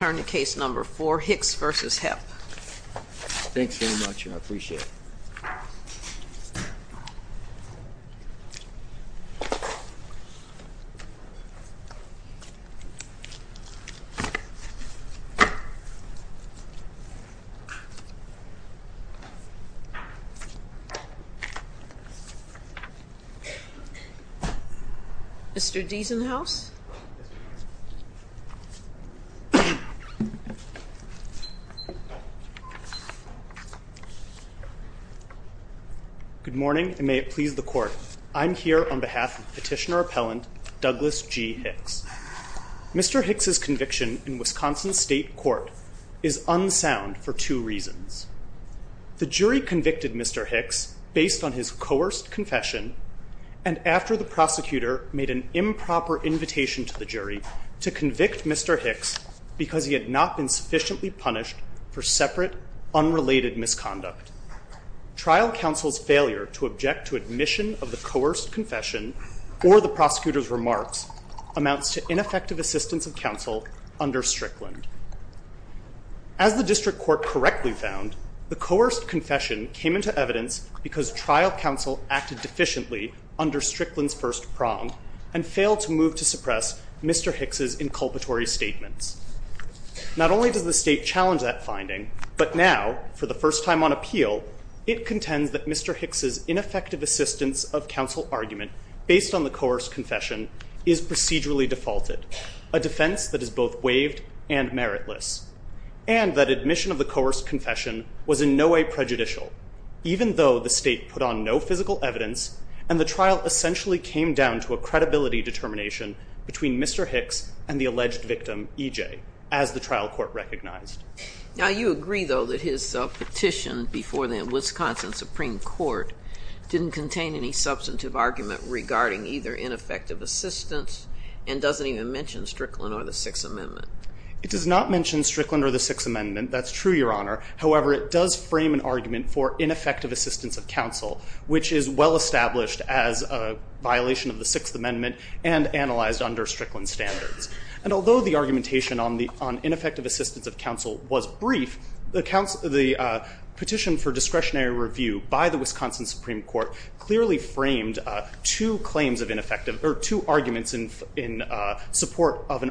Turn to case number 4, Hicks v. Hepp. Thanks very much, I appreciate it. Mr. Deasonhouse? Good morning, and may it please the court. I'm here on behalf of petitioner appellant Douglas G. Hicks. Mr. Hicks' conviction in Wisconsin State Court is unsound for two reasons. The jury convicted Mr. Hicks based on his coerced confession, and after the prosecutor made an improper invitation to the jury to convict Mr. Hicks because he had not been sufficiently punished for separate, unrelated misconduct. Trial counsel's failure to object to admission of the coerced confession or the prosecutor's remarks amounts to ineffective assistance of counsel under Strickland. As the district court correctly found, the coerced confession came into evidence because trial counsel acted deficiently under Strickland's first prong and failed to move to suppress Mr. Hicks' inculpatory statements. Not only does the state challenge that finding, but now, for the first time on appeal, it contends that Mr. Hicks' ineffective assistance of counsel argument based on the coerced confession is procedurally defaulted, a defense that is both waived and meritless, and that admission of the coerced confession was in no way prejudicial, even though the state put on no physical evidence and the trial essentially came down to a credibility determination between Mr. Hicks and the alleged victim, E.J., as the trial court recognized. Now, you agree, though, that his petition before the Wisconsin Supreme Court didn't contain any substantive argument regarding either ineffective assistance and doesn't even mention Strickland or the Sixth Amendment. It does not mention Strickland or the Sixth Amendment. That's true, Your Honor. However, it does frame an argument for ineffective assistance of counsel, which is well established as a violation of the Sixth Amendment and analyzed under Strickland standards. And although the argumentation on ineffective assistance of counsel was brief, the petition for discretionary review by the Wisconsin Supreme Court clearly framed two claims of ineffective or two arguments in support of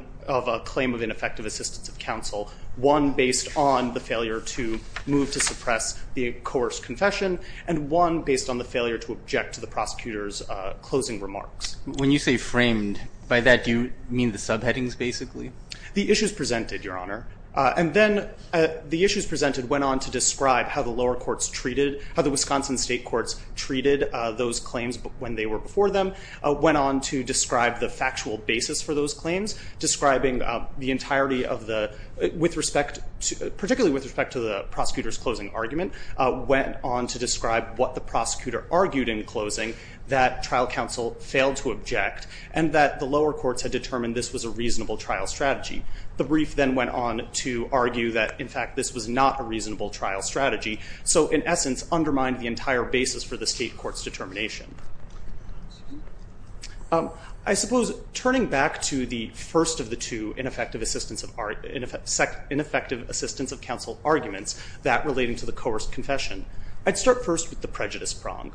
a claim of ineffective assistance of counsel, one based on the failure to move to suppress the coerced confession and one based on the failure to object to the prosecutor's closing remarks. When you say framed, by that do you mean the subheadings, basically? The issues presented, Your Honor. And then the issues presented went on to describe how the lower courts treated, how the Wisconsin state courts treated those claims when they were before them, went on to describe the factual basis for those claims, describing the entirety of the, with respect to, particularly with respect to the prosecutor's closing argument, went on to describe what the prosecutor argued in closing, that trial counsel failed to object and that the lower courts had determined this was a reasonable trial strategy. The brief then went on to argue that, in fact, this was not a reasonable trial strategy, so in essence undermined the entire basis for the state court's determination. I suppose turning back to the first of the two ineffective assistance of counsel arguments, that relating to the coerced confession, I'd start first with the prejudice prong.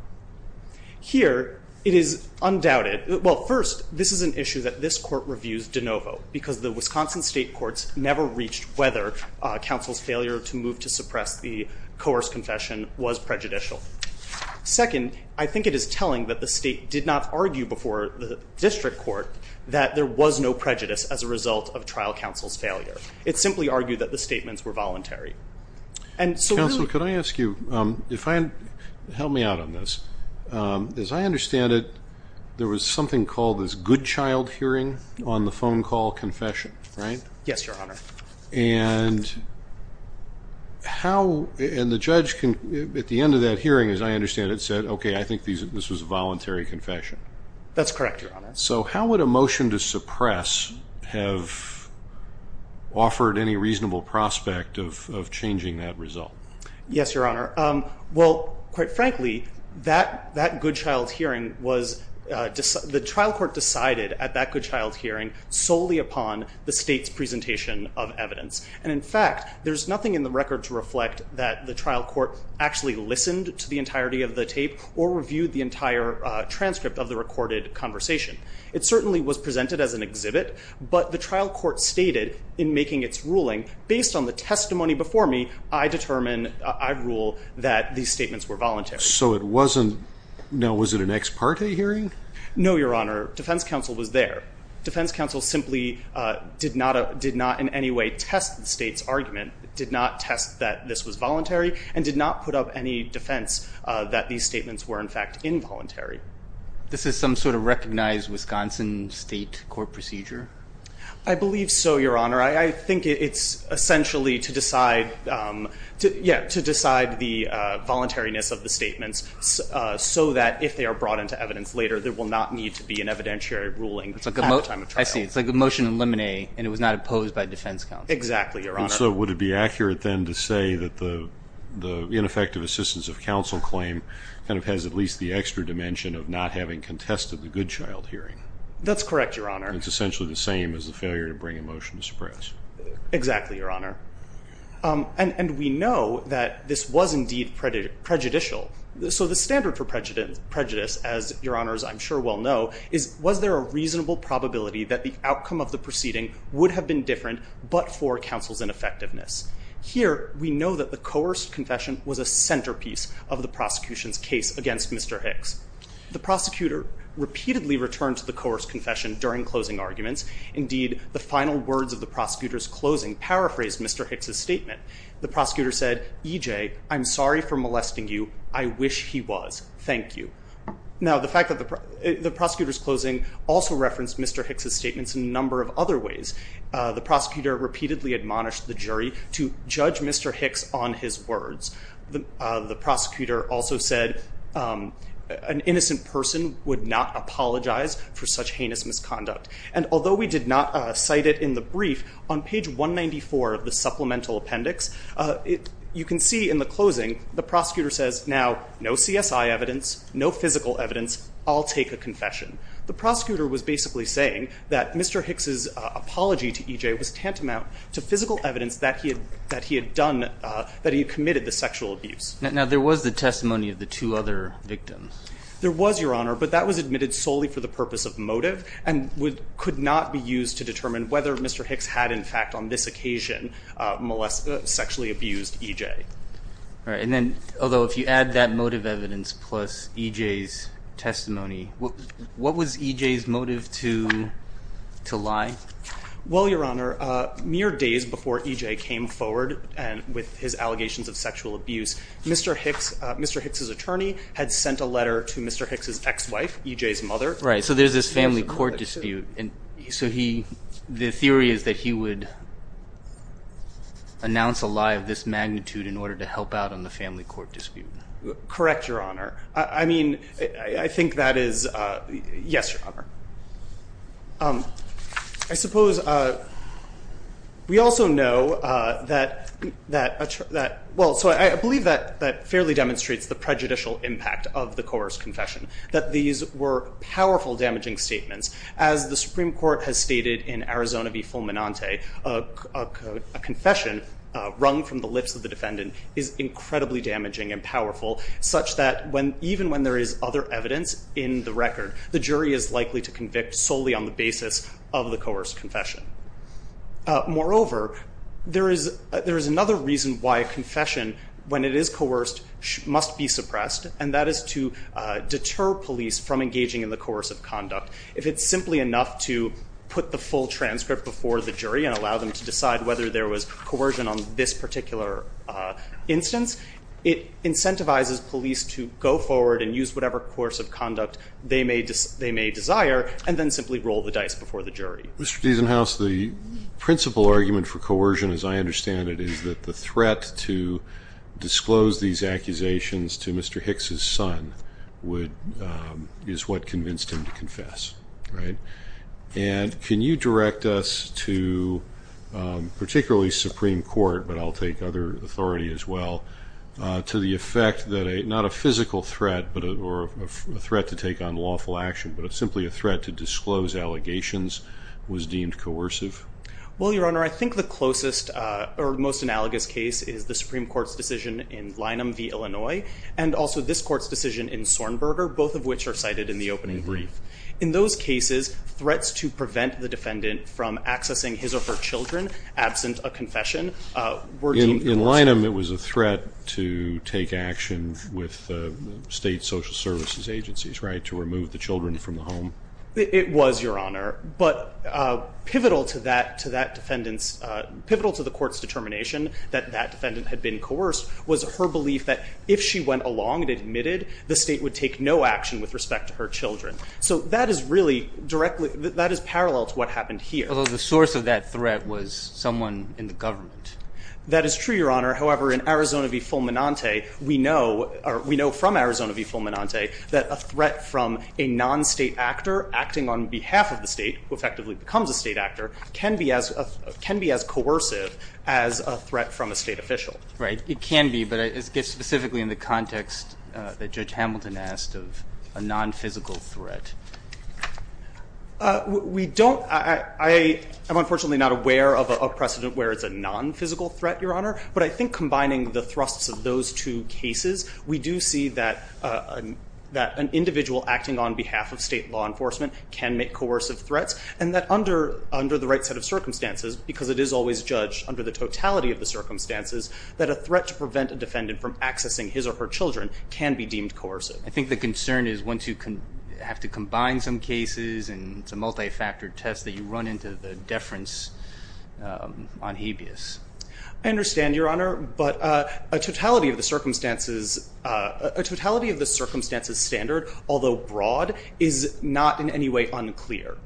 Here it is undoubted, well, first, this is an issue that this court reviews de novo because the Wisconsin state courts never reached whether counsel's failure to move to suppress the coerced confession was prejudicial. Second, I think it is telling that the state did not argue before the district court that there was no prejudice as a result of trial counsel's failure. It simply argued that the statements were voluntary. Counsel, could I ask you, help me out on this, as I understand it, there was something called this good child hearing on the phone call confession, right? Yes, Your Honor. And the judge at the end of that hearing, as I understand it, said, okay, I think this was a voluntary confession. That's correct, Your Honor. So how would a motion to suppress have offered any reasonable prospect of changing that result? Yes, Your Honor. Well, quite frankly, that good child hearing was the trial court decided at that good child hearing solely upon the state's presentation of evidence. And, in fact, there's nothing in the record to reflect that the trial court actually listened to the entirety of the tape or reviewed the entire transcript of the recorded conversation. It certainly was presented as an exhibit, but the trial court stated in making its ruling, based on the testimony before me, I determine, I rule that these statements were voluntary. So it wasn't, now, was it an ex parte hearing? No, Your Honor. Defense counsel was there. that this was voluntary and did not put up any defense that these statements were, in fact, involuntary. This is some sort of recognized Wisconsin state court procedure? I believe so, Your Honor. I think it's essentially to decide the voluntariness of the statements so that, if they are brought into evidence later, there will not need to be an evidentiary ruling at the time of trial. I see. It's like a motion in limine and it was not opposed by defense counsel. Exactly, Your Honor. So would it be accurate, then, to say that the ineffective assistance of counsel claim kind of has at least the extra dimension of not having contested the good child hearing? That's correct, Your Honor. It's essentially the same as the failure to bring a motion to suppress. Exactly, Your Honor. And we know that this was, indeed, prejudicial. So the standard for prejudice, as Your Honors, I'm sure, well know, is was there a reasonable probability that the outcome of the proceeding would have been different but for counsel's ineffectiveness? Here, we know that the coerced confession was a centerpiece of the prosecution's case against Mr. Hicks. The prosecutor repeatedly returned to the coerced confession during closing arguments. Indeed, the final words of the prosecutor's closing paraphrased Mr. Hicks' statement. The prosecutor said, EJ, I'm sorry for molesting you. I wish he was. Thank you. Now, the fact that the prosecutor's closing also referenced Mr. Hicks' statements in a number of other ways. The prosecutor repeatedly admonished the jury to judge Mr. Hicks on his words. The prosecutor also said an innocent person would not apologize for such heinous misconduct. And although we did not cite it in the brief, on page 194 of the supplemental appendix, you can see in the closing the prosecutor says, now, no CSI evidence, no physical evidence, I'll take a confession. The prosecutor was basically saying that Mr. Hicks' apology to EJ was tantamount to physical evidence that he had done, that he had committed the sexual abuse. Now, there was the testimony of the two other victims. There was, Your Honor, but that was admitted solely for the purpose of motive and could not be used to determine whether Mr. Hicks had, in fact, on this occasion, sexually abused EJ. All right. And then, although if you add that motive evidence plus EJ's testimony, what was EJ's motive to lie? Well, Your Honor, mere days before EJ came forward with his allegations of sexual abuse, Mr. Hicks' attorney had sent a letter to Mr. Hicks' ex-wife, EJ's mother. Right. So there's this family court dispute. And so he, the theory is that he would announce a lie of this magnitude in order to help out on the family court dispute. Correct, Your Honor. I mean, I think that is, yes, Your Honor. I suppose we also know that, well, so I believe that fairly demonstrates the prejudicial impact of the coerced confession, that these were powerful damaging statements. As the Supreme Court has stated in Arizona v. Fulminante, a confession wrung from the lips of the defendant is incredibly damaging and powerful, such that even when there is other evidence in the record, the jury is likely to convict solely on the basis of the coerced confession. Moreover, there is another reason why a confession, when it is coerced, must be suppressed, and that is to deter police from engaging in the coercive conduct. If it's simply enough to put the full transcript before the jury and allow them to decide whether there was coercion on this particular instance, it incentivizes police to go forward and use whatever coercive conduct they may desire and then simply roll the dice before the jury. Mr. Diesenhaus, the principal argument for coercion, as I understand it, is that the threat to disclose these accusations to Mr. Hicks' son is what convinced him to confess. And can you direct us to, particularly Supreme Court, but I'll take other authority as well, to the effect that not a physical threat or a threat to take unlawful action, but simply a threat to disclose allegations was deemed coercive? Well, Your Honor, I think the closest or most analogous case is the Supreme Court's decision in Lynham v. Illinois and also this Court's decision in Sornberger, both of which are cited in the opening brief. In those cases, threats to prevent the defendant from accessing his or her children absent a confession were deemed coercive. In Lynham, it was a threat to take action with state social services agencies, right, to remove the children from the home? It was, Your Honor, but pivotal to that defendant's – pivotal to the Court's determination that that defendant had been coerced was her belief that if she went along and admitted, the state would take no action with respect to her children. So that is really directly – that is parallel to what happened here. Although the source of that threat was someone in the government. That is true, Your Honor. However, in Arizona v. Fulminante, we know – or we know from Arizona v. Fulminante that a threat from a non-state actor acting on behalf of the state, who effectively becomes a state actor, can be as – can be as coercive as a threat from a state official. Right. It can be, but it's specifically in the context that Judge Hamilton asked of a nonphysical threat. We don't – I am unfortunately not aware of a precedent where it's a nonphysical threat, Your Honor, but I think combining the thrusts of those two cases, we do see that an individual acting on behalf of state law enforcement can make coercive threats, and that under the right set of circumstances, because it is always judged under the totality of the circumstances, that a threat to prevent a defendant from accessing his or her children can be deemed coercive. I think the concern is once you have to combine some cases, and it's a multi-factor test that you run into the deference on habeas. I understand, Your Honor, but a totality of the circumstances – a totality of the circumstances standard, although broad, is not in any way unclear.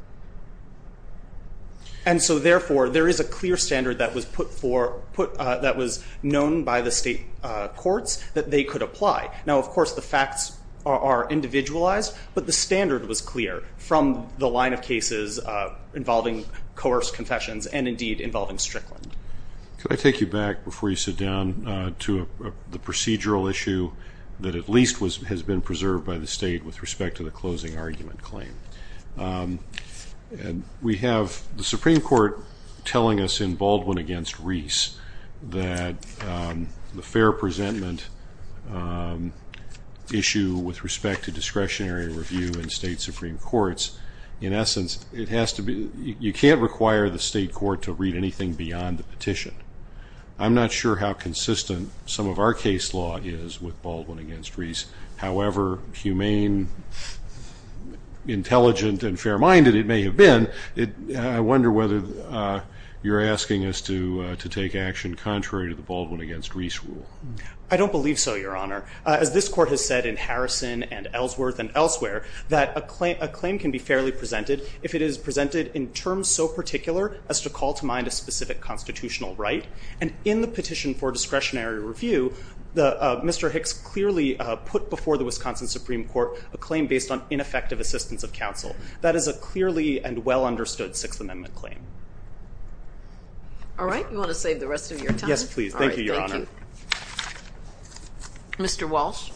And so, therefore, there is a clear standard that was put for – that was known by the state courts that they could apply. Now, of course, the facts are individualized, but the standard was clear from the line of cases involving coerced confessions and, indeed, involving Strickland. Could I take you back before you sit down to the procedural issue that at least has been preserved by the state with respect to the closing argument claim? We have the Supreme Court telling us in Baldwin v. Reese that the fair presentment issue with respect to discretionary review in state Supreme Courts, in essence, it has to be – you can't require the state court to read anything beyond the petition. I'm not sure how consistent some of our case law is with Baldwin v. Reese. However humane, intelligent, and fair-minded it may have been, I wonder whether you're asking us to take action contrary to the Baldwin v. Reese rule. I don't believe so, Your Honor. As this court has said in Harrison and Ellsworth and elsewhere, that a claim can be fairly presented if it is presented in terms so particular as to call to mind a specific constitutional right. And in the petition for discretionary review, Mr. Hicks clearly put before the Wisconsin Supreme Court a claim based on ineffective assistance of counsel. That is a clearly and well-understood Sixth Amendment claim. All right. You want to save the rest of your time? Yes, please. Thank you, Your Honor. All right. Thank you. Mr. Walsh.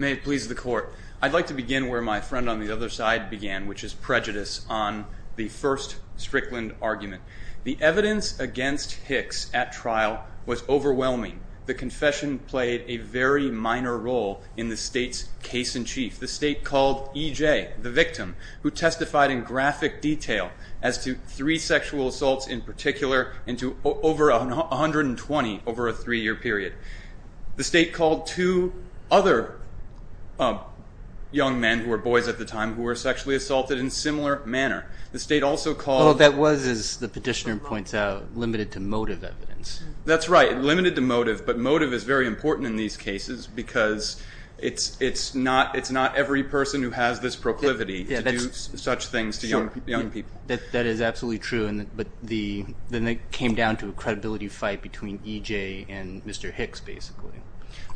May it please the Court. I'd like to begin where my friend on the other side began, which is prejudice on the first Strickland argument. The evidence against Hicks at trial was overwhelming. The confession played a very minor role in the State's case-in-chief. The State called E.J., the victim, who testified in graphic detail as to three sexual assaults in particular and to over 120 over a three-year period. The State called two other young men, who were boys at the time, who were sexually assaulted in a similar manner. The State also called- Well, that was, as the petitioner points out, limited to motive evidence. That's right, limited to motive. But motive is very important in these cases because it's not every person who has this proclivity to do such things to young people. That is absolutely true. But then it came down to a credibility fight between E.J. and Mr. Hicks, basically.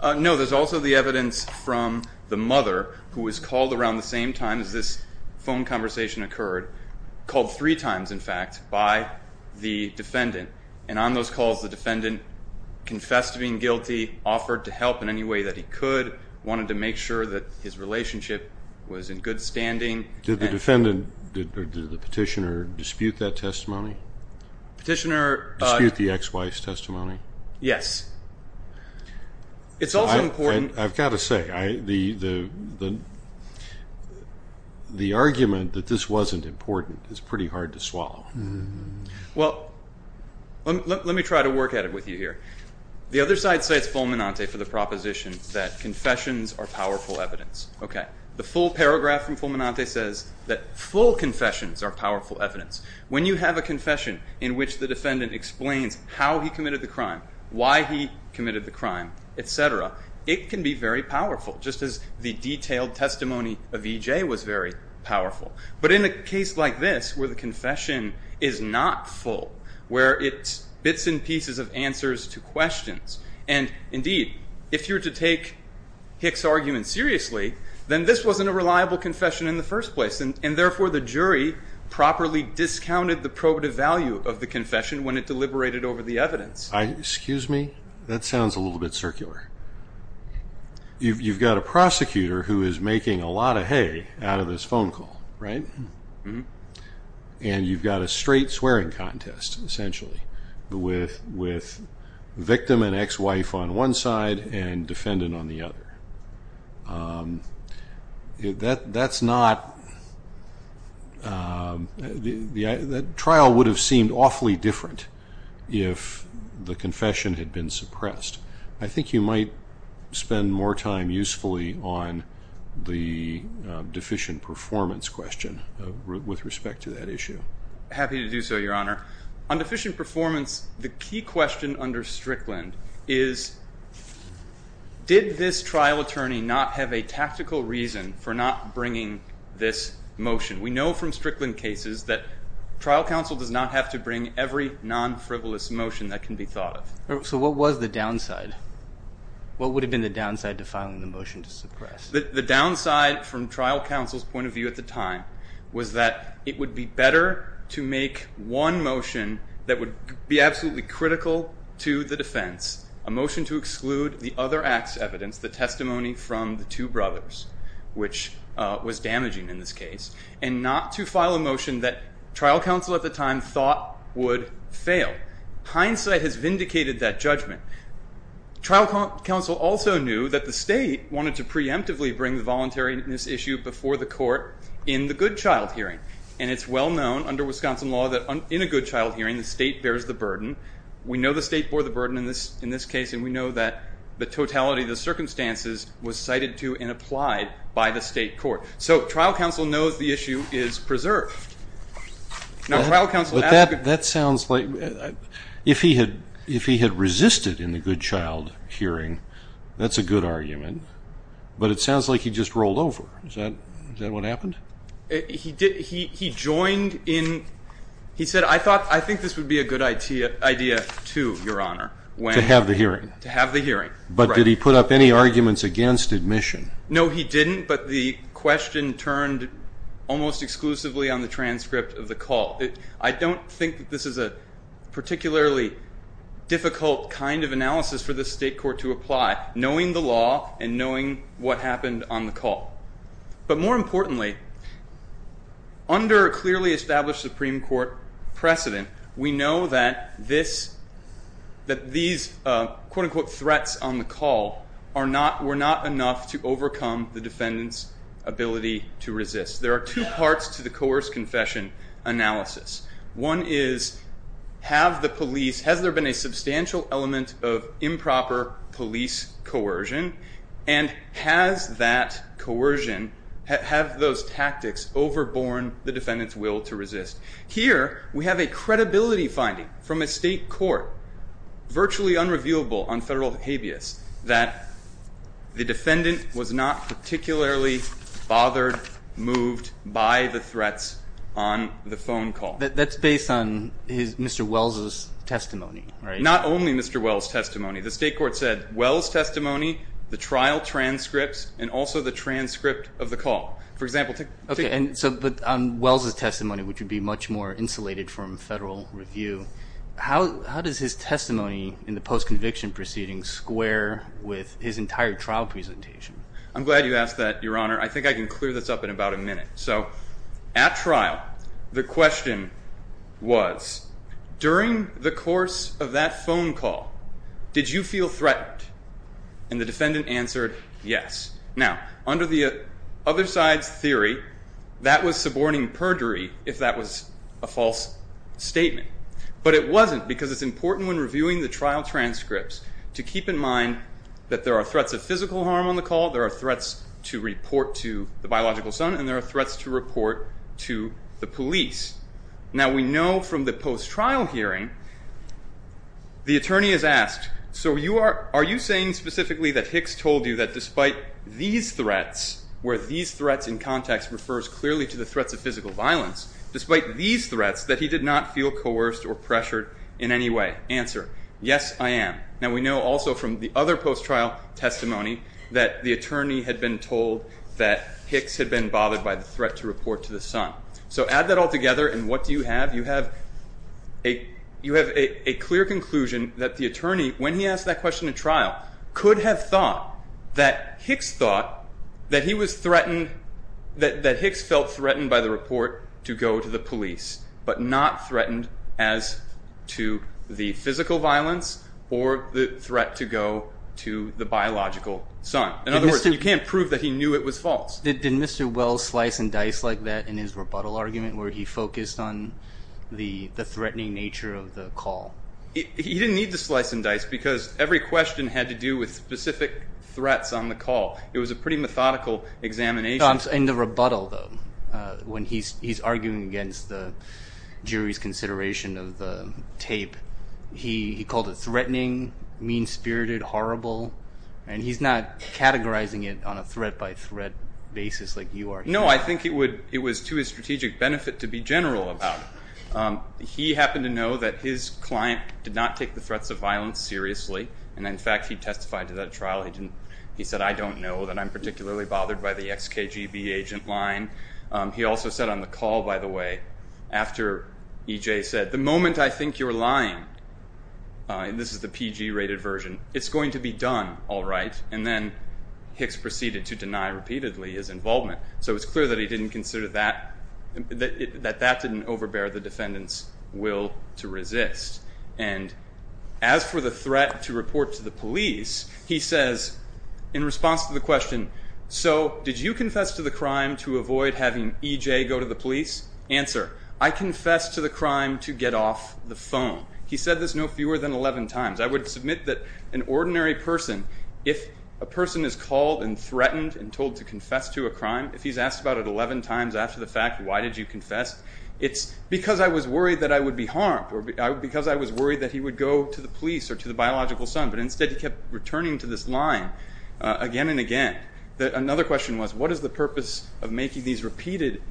No, there's also the evidence from the mother, who was called around the same time as this phone conversation occurred, called three times, in fact, by the defendant. And on those calls, the defendant confessed to being guilty, offered to help in any way that he could, wanted to make sure that his relationship was in good standing. Did the petitioner dispute that testimony? Petitioner- Dispute the ex-wife's testimony? Yes. It's also important- I've got to say, the argument that this wasn't important is pretty hard to swallow. Well, let me try to work at it with you here. The other side cites Fulminante for the proposition that confessions are powerful evidence. The full paragraph from Fulminante says that full confessions are powerful evidence. When you have a confession in which the defendant explains how he committed the crime, why he committed the crime, et cetera, it can be very powerful, just as the detailed testimony of E.J. was very powerful. But in a case like this, where the confession is not full, where it's bits and pieces of answers to questions, and indeed, if you were to take Hick's argument seriously, then this wasn't a reliable confession in the first place, and therefore the jury properly discounted the probative value of the confession when it deliberated over the evidence. Excuse me? That sounds a little bit circular. You've got a prosecutor who is making a lot of hay out of this phone call, right? And you've got a straight swearing contest, essentially, with victim and ex-wife on one side and defendant on the other. The trial would have seemed awfully different if the confession had been suppressed. I think you might spend more time usefully on the deficient performance question with respect to that issue. Happy to do so, Your Honor. On deficient performance, the key question under Strickland is, did this trial attorney not have a tactical reason for not bringing this motion? We know from Strickland cases that trial counsel does not have to bring every non-frivolous motion that can be thought of. So what was the downside? What would have been the downside to filing the motion to suppress? The downside from trial counsel's point of view at the time was that it would be better to make one motion that would be absolutely critical to the defense, a motion to exclude the other act's evidence, the testimony from the two brothers, which was damaging in this case, and not to file a motion that trial counsel at the time thought would fail. Hindsight has vindicated that judgment. Trial counsel also knew that the state wanted to preemptively bring the voluntariness issue before the court in the good child hearing, and it's well known under Wisconsin law that in a good child hearing, the state bears the burden. We know the state bore the burden in this case, and we know that the totality of the circumstances was cited to and applied by the state court. So trial counsel knows the issue is preserved. Now, trial counsel asked if he had resisted in the good child hearing, that's a good argument, but it sounds like he just rolled over. Is that what happened? He joined in. He said, I think this would be a good idea, too, Your Honor. To have the hearing. To have the hearing. But did he put up any arguments against admission? No, he didn't, but the question turned almost exclusively on the transcript of the call. I don't think that this is a particularly difficult kind of analysis for the state court to apply, knowing the law and knowing what happened on the call. But more importantly, under a clearly established Supreme Court precedent, we know that these quote-unquote threats on the call were not enough to overcome the defendant's ability to resist. There are two parts to the coerced confession analysis. One is, has there been a substantial element of improper police coercion, and has that coercion, have those tactics overborne the defendant's will to resist? Here, we have a credibility finding from a state court, virtually unrevealable on federal habeas, that the defendant was not particularly bothered, moved by the threats on the phone call. That's based on Mr. Wells' testimony, right? Not only Mr. Wells' testimony. The state court said Wells' testimony, the trial transcripts, and also the transcript of the call. But on Wells' testimony, which would be much more insulated from federal review, how does his testimony in the post-conviction proceedings square with his entire trial presentation? I'm glad you asked that, Your Honor. I think I can clear this up in about a minute. At trial, the question was, during the course of that phone call, did you feel threatened? And the defendant answered, yes. Now, under the other side's theory, that was suborning perjury, if that was a false statement. But it wasn't, because it's important when reviewing the trial transcripts to keep in mind that there are threats of physical harm on the call, there are threats to report to the biological son, and there are threats to report to the police. Now, we know from the post-trial hearing, the attorney is asked, so are you saying specifically that Hicks told you that despite these threats, where these threats in context refers clearly to the threats of physical violence, despite these threats, that he did not feel coerced or pressured in any way? Answer, yes, I am. Now, we know also from the other post-trial testimony that the attorney had been told that Hicks had been bothered by the threat to report to the son. So add that all together, and what do you have? You have a clear conclusion that the attorney, when he asked that question in trial, could have thought that Hicks felt threatened by the report to go to the police, but not threatened as to the physical violence or the threat to go to the biological son. In other words, you can't prove that he knew it was false. Did Mr. Wells slice and dice like that in his rebuttal argument, where he focused on the threatening nature of the call? He didn't need to slice and dice because every question had to do with specific threats on the call. It was a pretty methodical examination. In the rebuttal, though, when he's arguing against the jury's consideration of the tape, and he's not categorizing it on a threat-by-threat basis like you are. No, I think it was to his strategic benefit to be general about it. He happened to know that his client did not take the threats of violence seriously, and, in fact, he testified to that trial. He said, I don't know that I'm particularly bothered by the XKGB agent line. He also said on the call, by the way, after EJ said, the moment I think you're lying, and this is the PG-rated version, it's going to be done, all right. And then Hicks proceeded to deny repeatedly his involvement. So it's clear that he didn't consider that, that that didn't overbear the defendant's will to resist. And as for the threat to report to the police, he says, in response to the question, so did you confess to the crime to avoid having EJ go to the police? Answer, I confessed to the crime to get off the phone. He said this no fewer than 11 times. I would submit that an ordinary person, if a person is called and threatened and told to confess to a crime, if he's asked about it 11 times after the fact, why did you confess, it's because I was worried that I would be harmed or because I was worried that he would go to the police or to the biological son. But instead he kept returning to this line again and again. Another question was, what is the purpose of making these repeated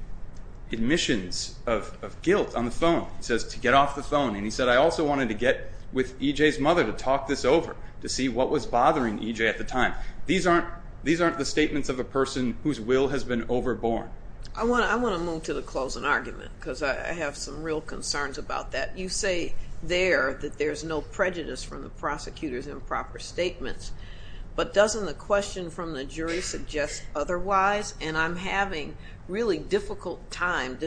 admissions of guilt on the phone? He says, to get off the phone. And he said, I also wanted to get with EJ's mother to talk this over, to see what was bothering EJ at the time. These aren't the statements of a person whose will has been overborne. I want to move to the closing argument because I have some real concerns about that. You say there that there's no prejudice from the prosecutor's improper statements, but doesn't the question from the jury suggest otherwise? And I'm having a really difficult time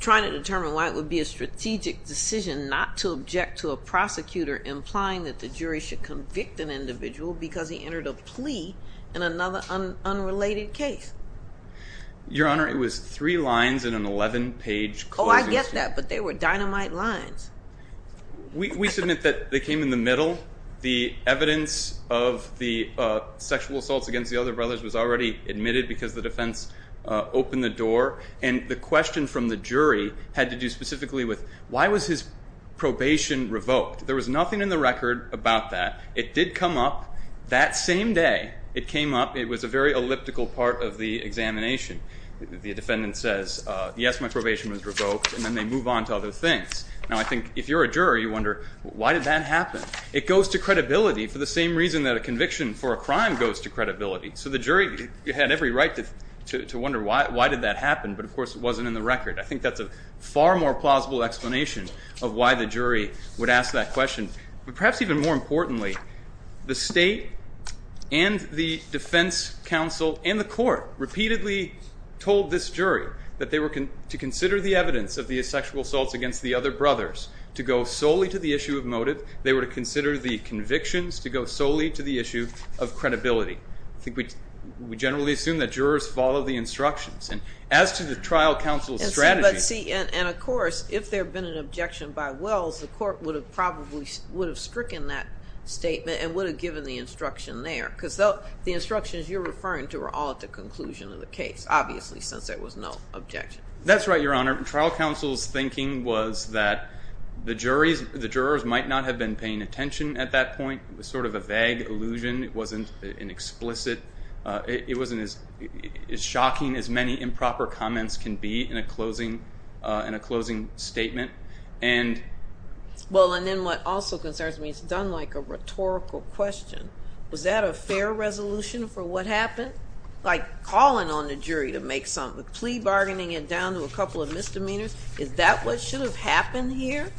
trying to determine why it would be a strategic decision not to object to a prosecutor implying that the jury should convict an individual because he entered a plea in another unrelated case. Your Honor, it was three lines in an 11-page closing statement. Oh, I get that, but they were dynamite lines. We submit that they came in the middle. The evidence of the sexual assaults against the other brothers was already admitted because the defense opened the door, and the question from the jury had to do specifically with why was his probation revoked? There was nothing in the record about that. It did come up that same day. It came up. It was a very elliptical part of the examination. The defendant says, yes, my probation was revoked, and then they move on to other things. Now, I think if you're a juror, you wonder, why did that happen? So the jury had every right to wonder why did that happen, but, of course, it wasn't in the record. I think that's a far more plausible explanation of why the jury would ask that question. But perhaps even more importantly, the state and the defense counsel and the court repeatedly told this jury that they were to consider the evidence of the sexual assaults against the other brothers to go solely to the issue of motive. They were to consider the convictions to go solely to the issue of credibility. I think we generally assume that jurors follow the instructions, and as to the trial counsel's strategy. But, see, and, of course, if there had been an objection by Wells, the court would have probably would have stricken that statement and would have given the instruction there because the instructions you're referring to are all at the conclusion of the case, obviously, since there was no objection. That's right, Your Honor. The trial counsel's thinking was that the jurors might not have been paying attention at that point. It was sort of a vague illusion. It wasn't explicit. It wasn't as shocking as many improper comments can be in a closing statement. Well, and then what also concerns me, it's done like a rhetorical question. Was that a fair resolution for what happened? Like calling on the jury to make something, plea bargaining it down to a couple of misdemeanors, is that what should have happened here,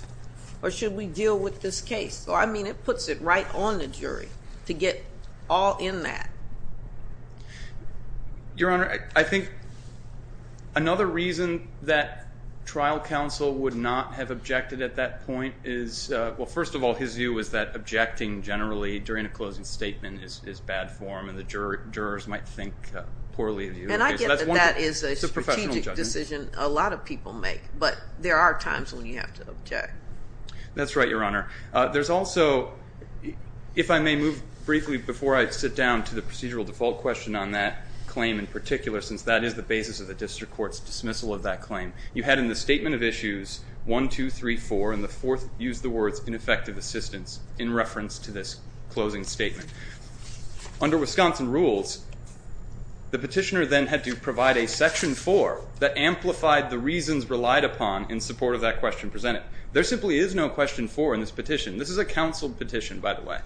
or should we deal with this case? So, I mean, it puts it right on the jury to get all in that. Your Honor, I think another reason that trial counsel would not have objected at that point is, well, first of all, his view was that objecting generally during a closing statement is bad form, and the jurors might think poorly of you. And I get that that is a strategic decision a lot of people make, but there are times when you have to object. That's right, Your Honor. There's also, if I may move briefly before I sit down to the procedural default question on that claim in particular, since that is the basis of the district court's dismissal of that claim, you had in the statement of issues one, two, three, four, and the fourth used the words ineffective assistance in reference to this closing statement. Under Wisconsin rules, the petitioner then had to provide a section four that amplified the reasons relied upon in support of that question presented. There simply is no question four in this petition. This is a counsel petition, by the way.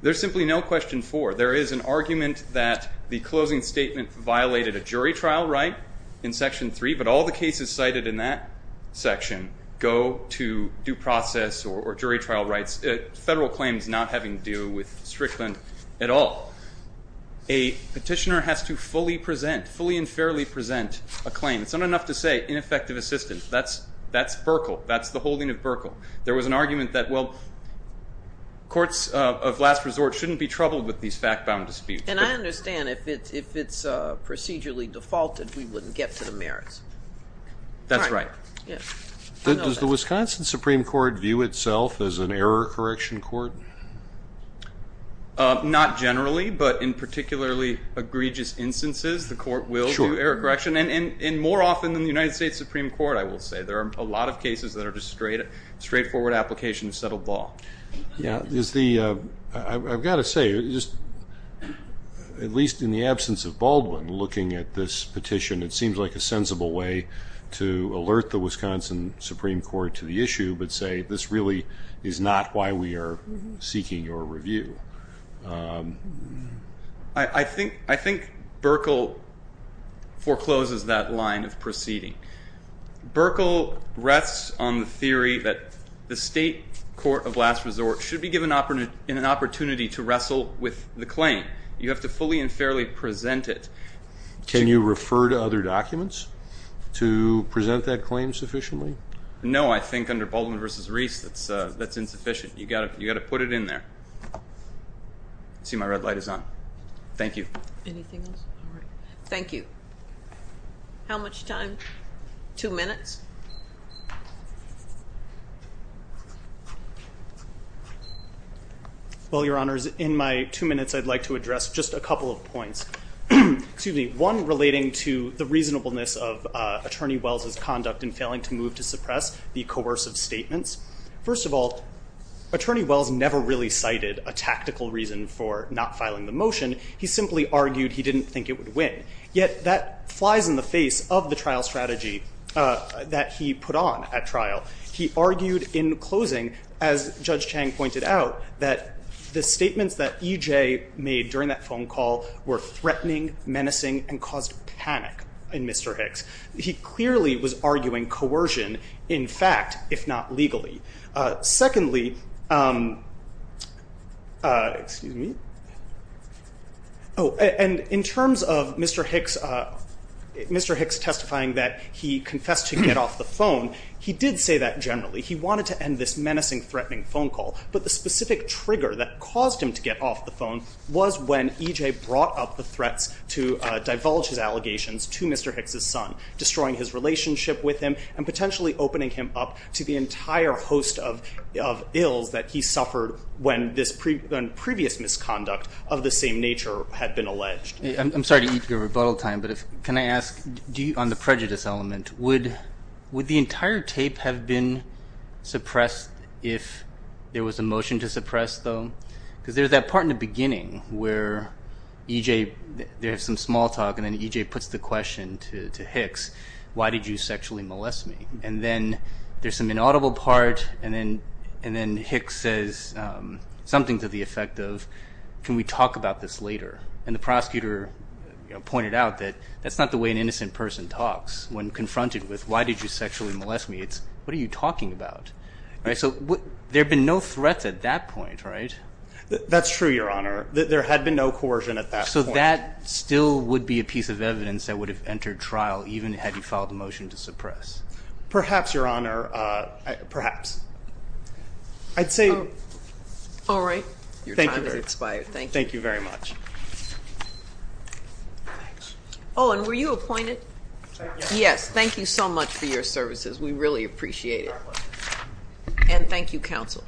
There's simply no question four. There is an argument that the closing statement violated a jury trial right in section three, but all the cases cited in that section go to due process or jury trial rights, federal claims not having to do with Strickland at all. A petitioner has to fully present, fully and fairly present a claim. It's not enough to say ineffective assistance. That's Berkel. That's the holding of Berkel. There was an argument that, well, courts of last resort shouldn't be troubled with these fact-bound disputes. And I understand if it's procedurally defaulted, we wouldn't get to the merits. That's right. Does the Wisconsin Supreme Court view itself as an error correction court? Not generally, but in particularly egregious instances, the court will do error correction, and more often than the United States Supreme Court, I will say. There are a lot of cases that are just straightforward application of settled law. I've got to say, at least in the absence of Baldwin looking at this petition, it seems like a sensible way to alert the Wisconsin Supreme Court to the issue but say this really is not why we are seeking your review. I think Berkel forecloses that line of proceeding. Berkel rests on the theory that the state court of last resort should be given an opportunity to wrestle with the claim. You have to fully and fairly present it. Can you refer to other documents to present that claim sufficiently? No, I think under Baldwin v. Reese, that's insufficient. You've got to put it in there. I see my red light is on. Thank you. Anything else? All right. Thank you. How much time? Two minutes? Well, Your Honors, in my two minutes, I'd like to address just a couple of points. One relating to the reasonableness of Attorney Wells' conduct in failing to move to suppress the coercive statements. First of all, Attorney Wells never really cited a tactical reason for not filing the motion. He simply argued he didn't think it would win. Yet that flies in the face of the trial strategy that he put on at trial. He argued in closing, as Judge Chang pointed out, that the statements that E.J. made during that phone call were threatening, menacing, and caused panic in Mr. Hicks. He clearly was arguing coercion in fact, if not legally. Secondly, in terms of Mr. Hicks testifying that he confessed to get off the phone, he did say that generally. He wanted to end this menacing, threatening phone call. But the specific trigger that caused him to get off the phone was when E.J. brought up the threats to divulge his allegations to Mr. Hicks' son, destroying his relationship with him and potentially opening him up to the entire host of ills that he suffered when previous misconduct of the same nature had been alleged. I'm sorry to eat your rebuttal time, but can I ask, on the prejudice element, would the entire tape have been suppressed if there was a motion to suppress though? Because there's that part in the beginning where E.J. there's some small talk and then E.J. puts the question to Hicks, why did you sexually molest me? And then there's some inaudible part and then Hicks says something to the effect of, can we talk about this later? And the prosecutor pointed out that that's not the way an innocent person talks. When confronted with why did you sexually molest me, it's what are you talking about? So there have been no threats at that point, right? That's true, Your Honor. There had been no coercion at that point. So that still would be a piece of evidence that would have entered trial even had you filed a motion to suppress? Perhaps, Your Honor. Perhaps. I'd say. All right. Your time has expired. Thank you. Thank you very much. Oh, and were you appointed? Yes. Yes. Thank you so much for your services. We really appreciate it. And thank you, counsel.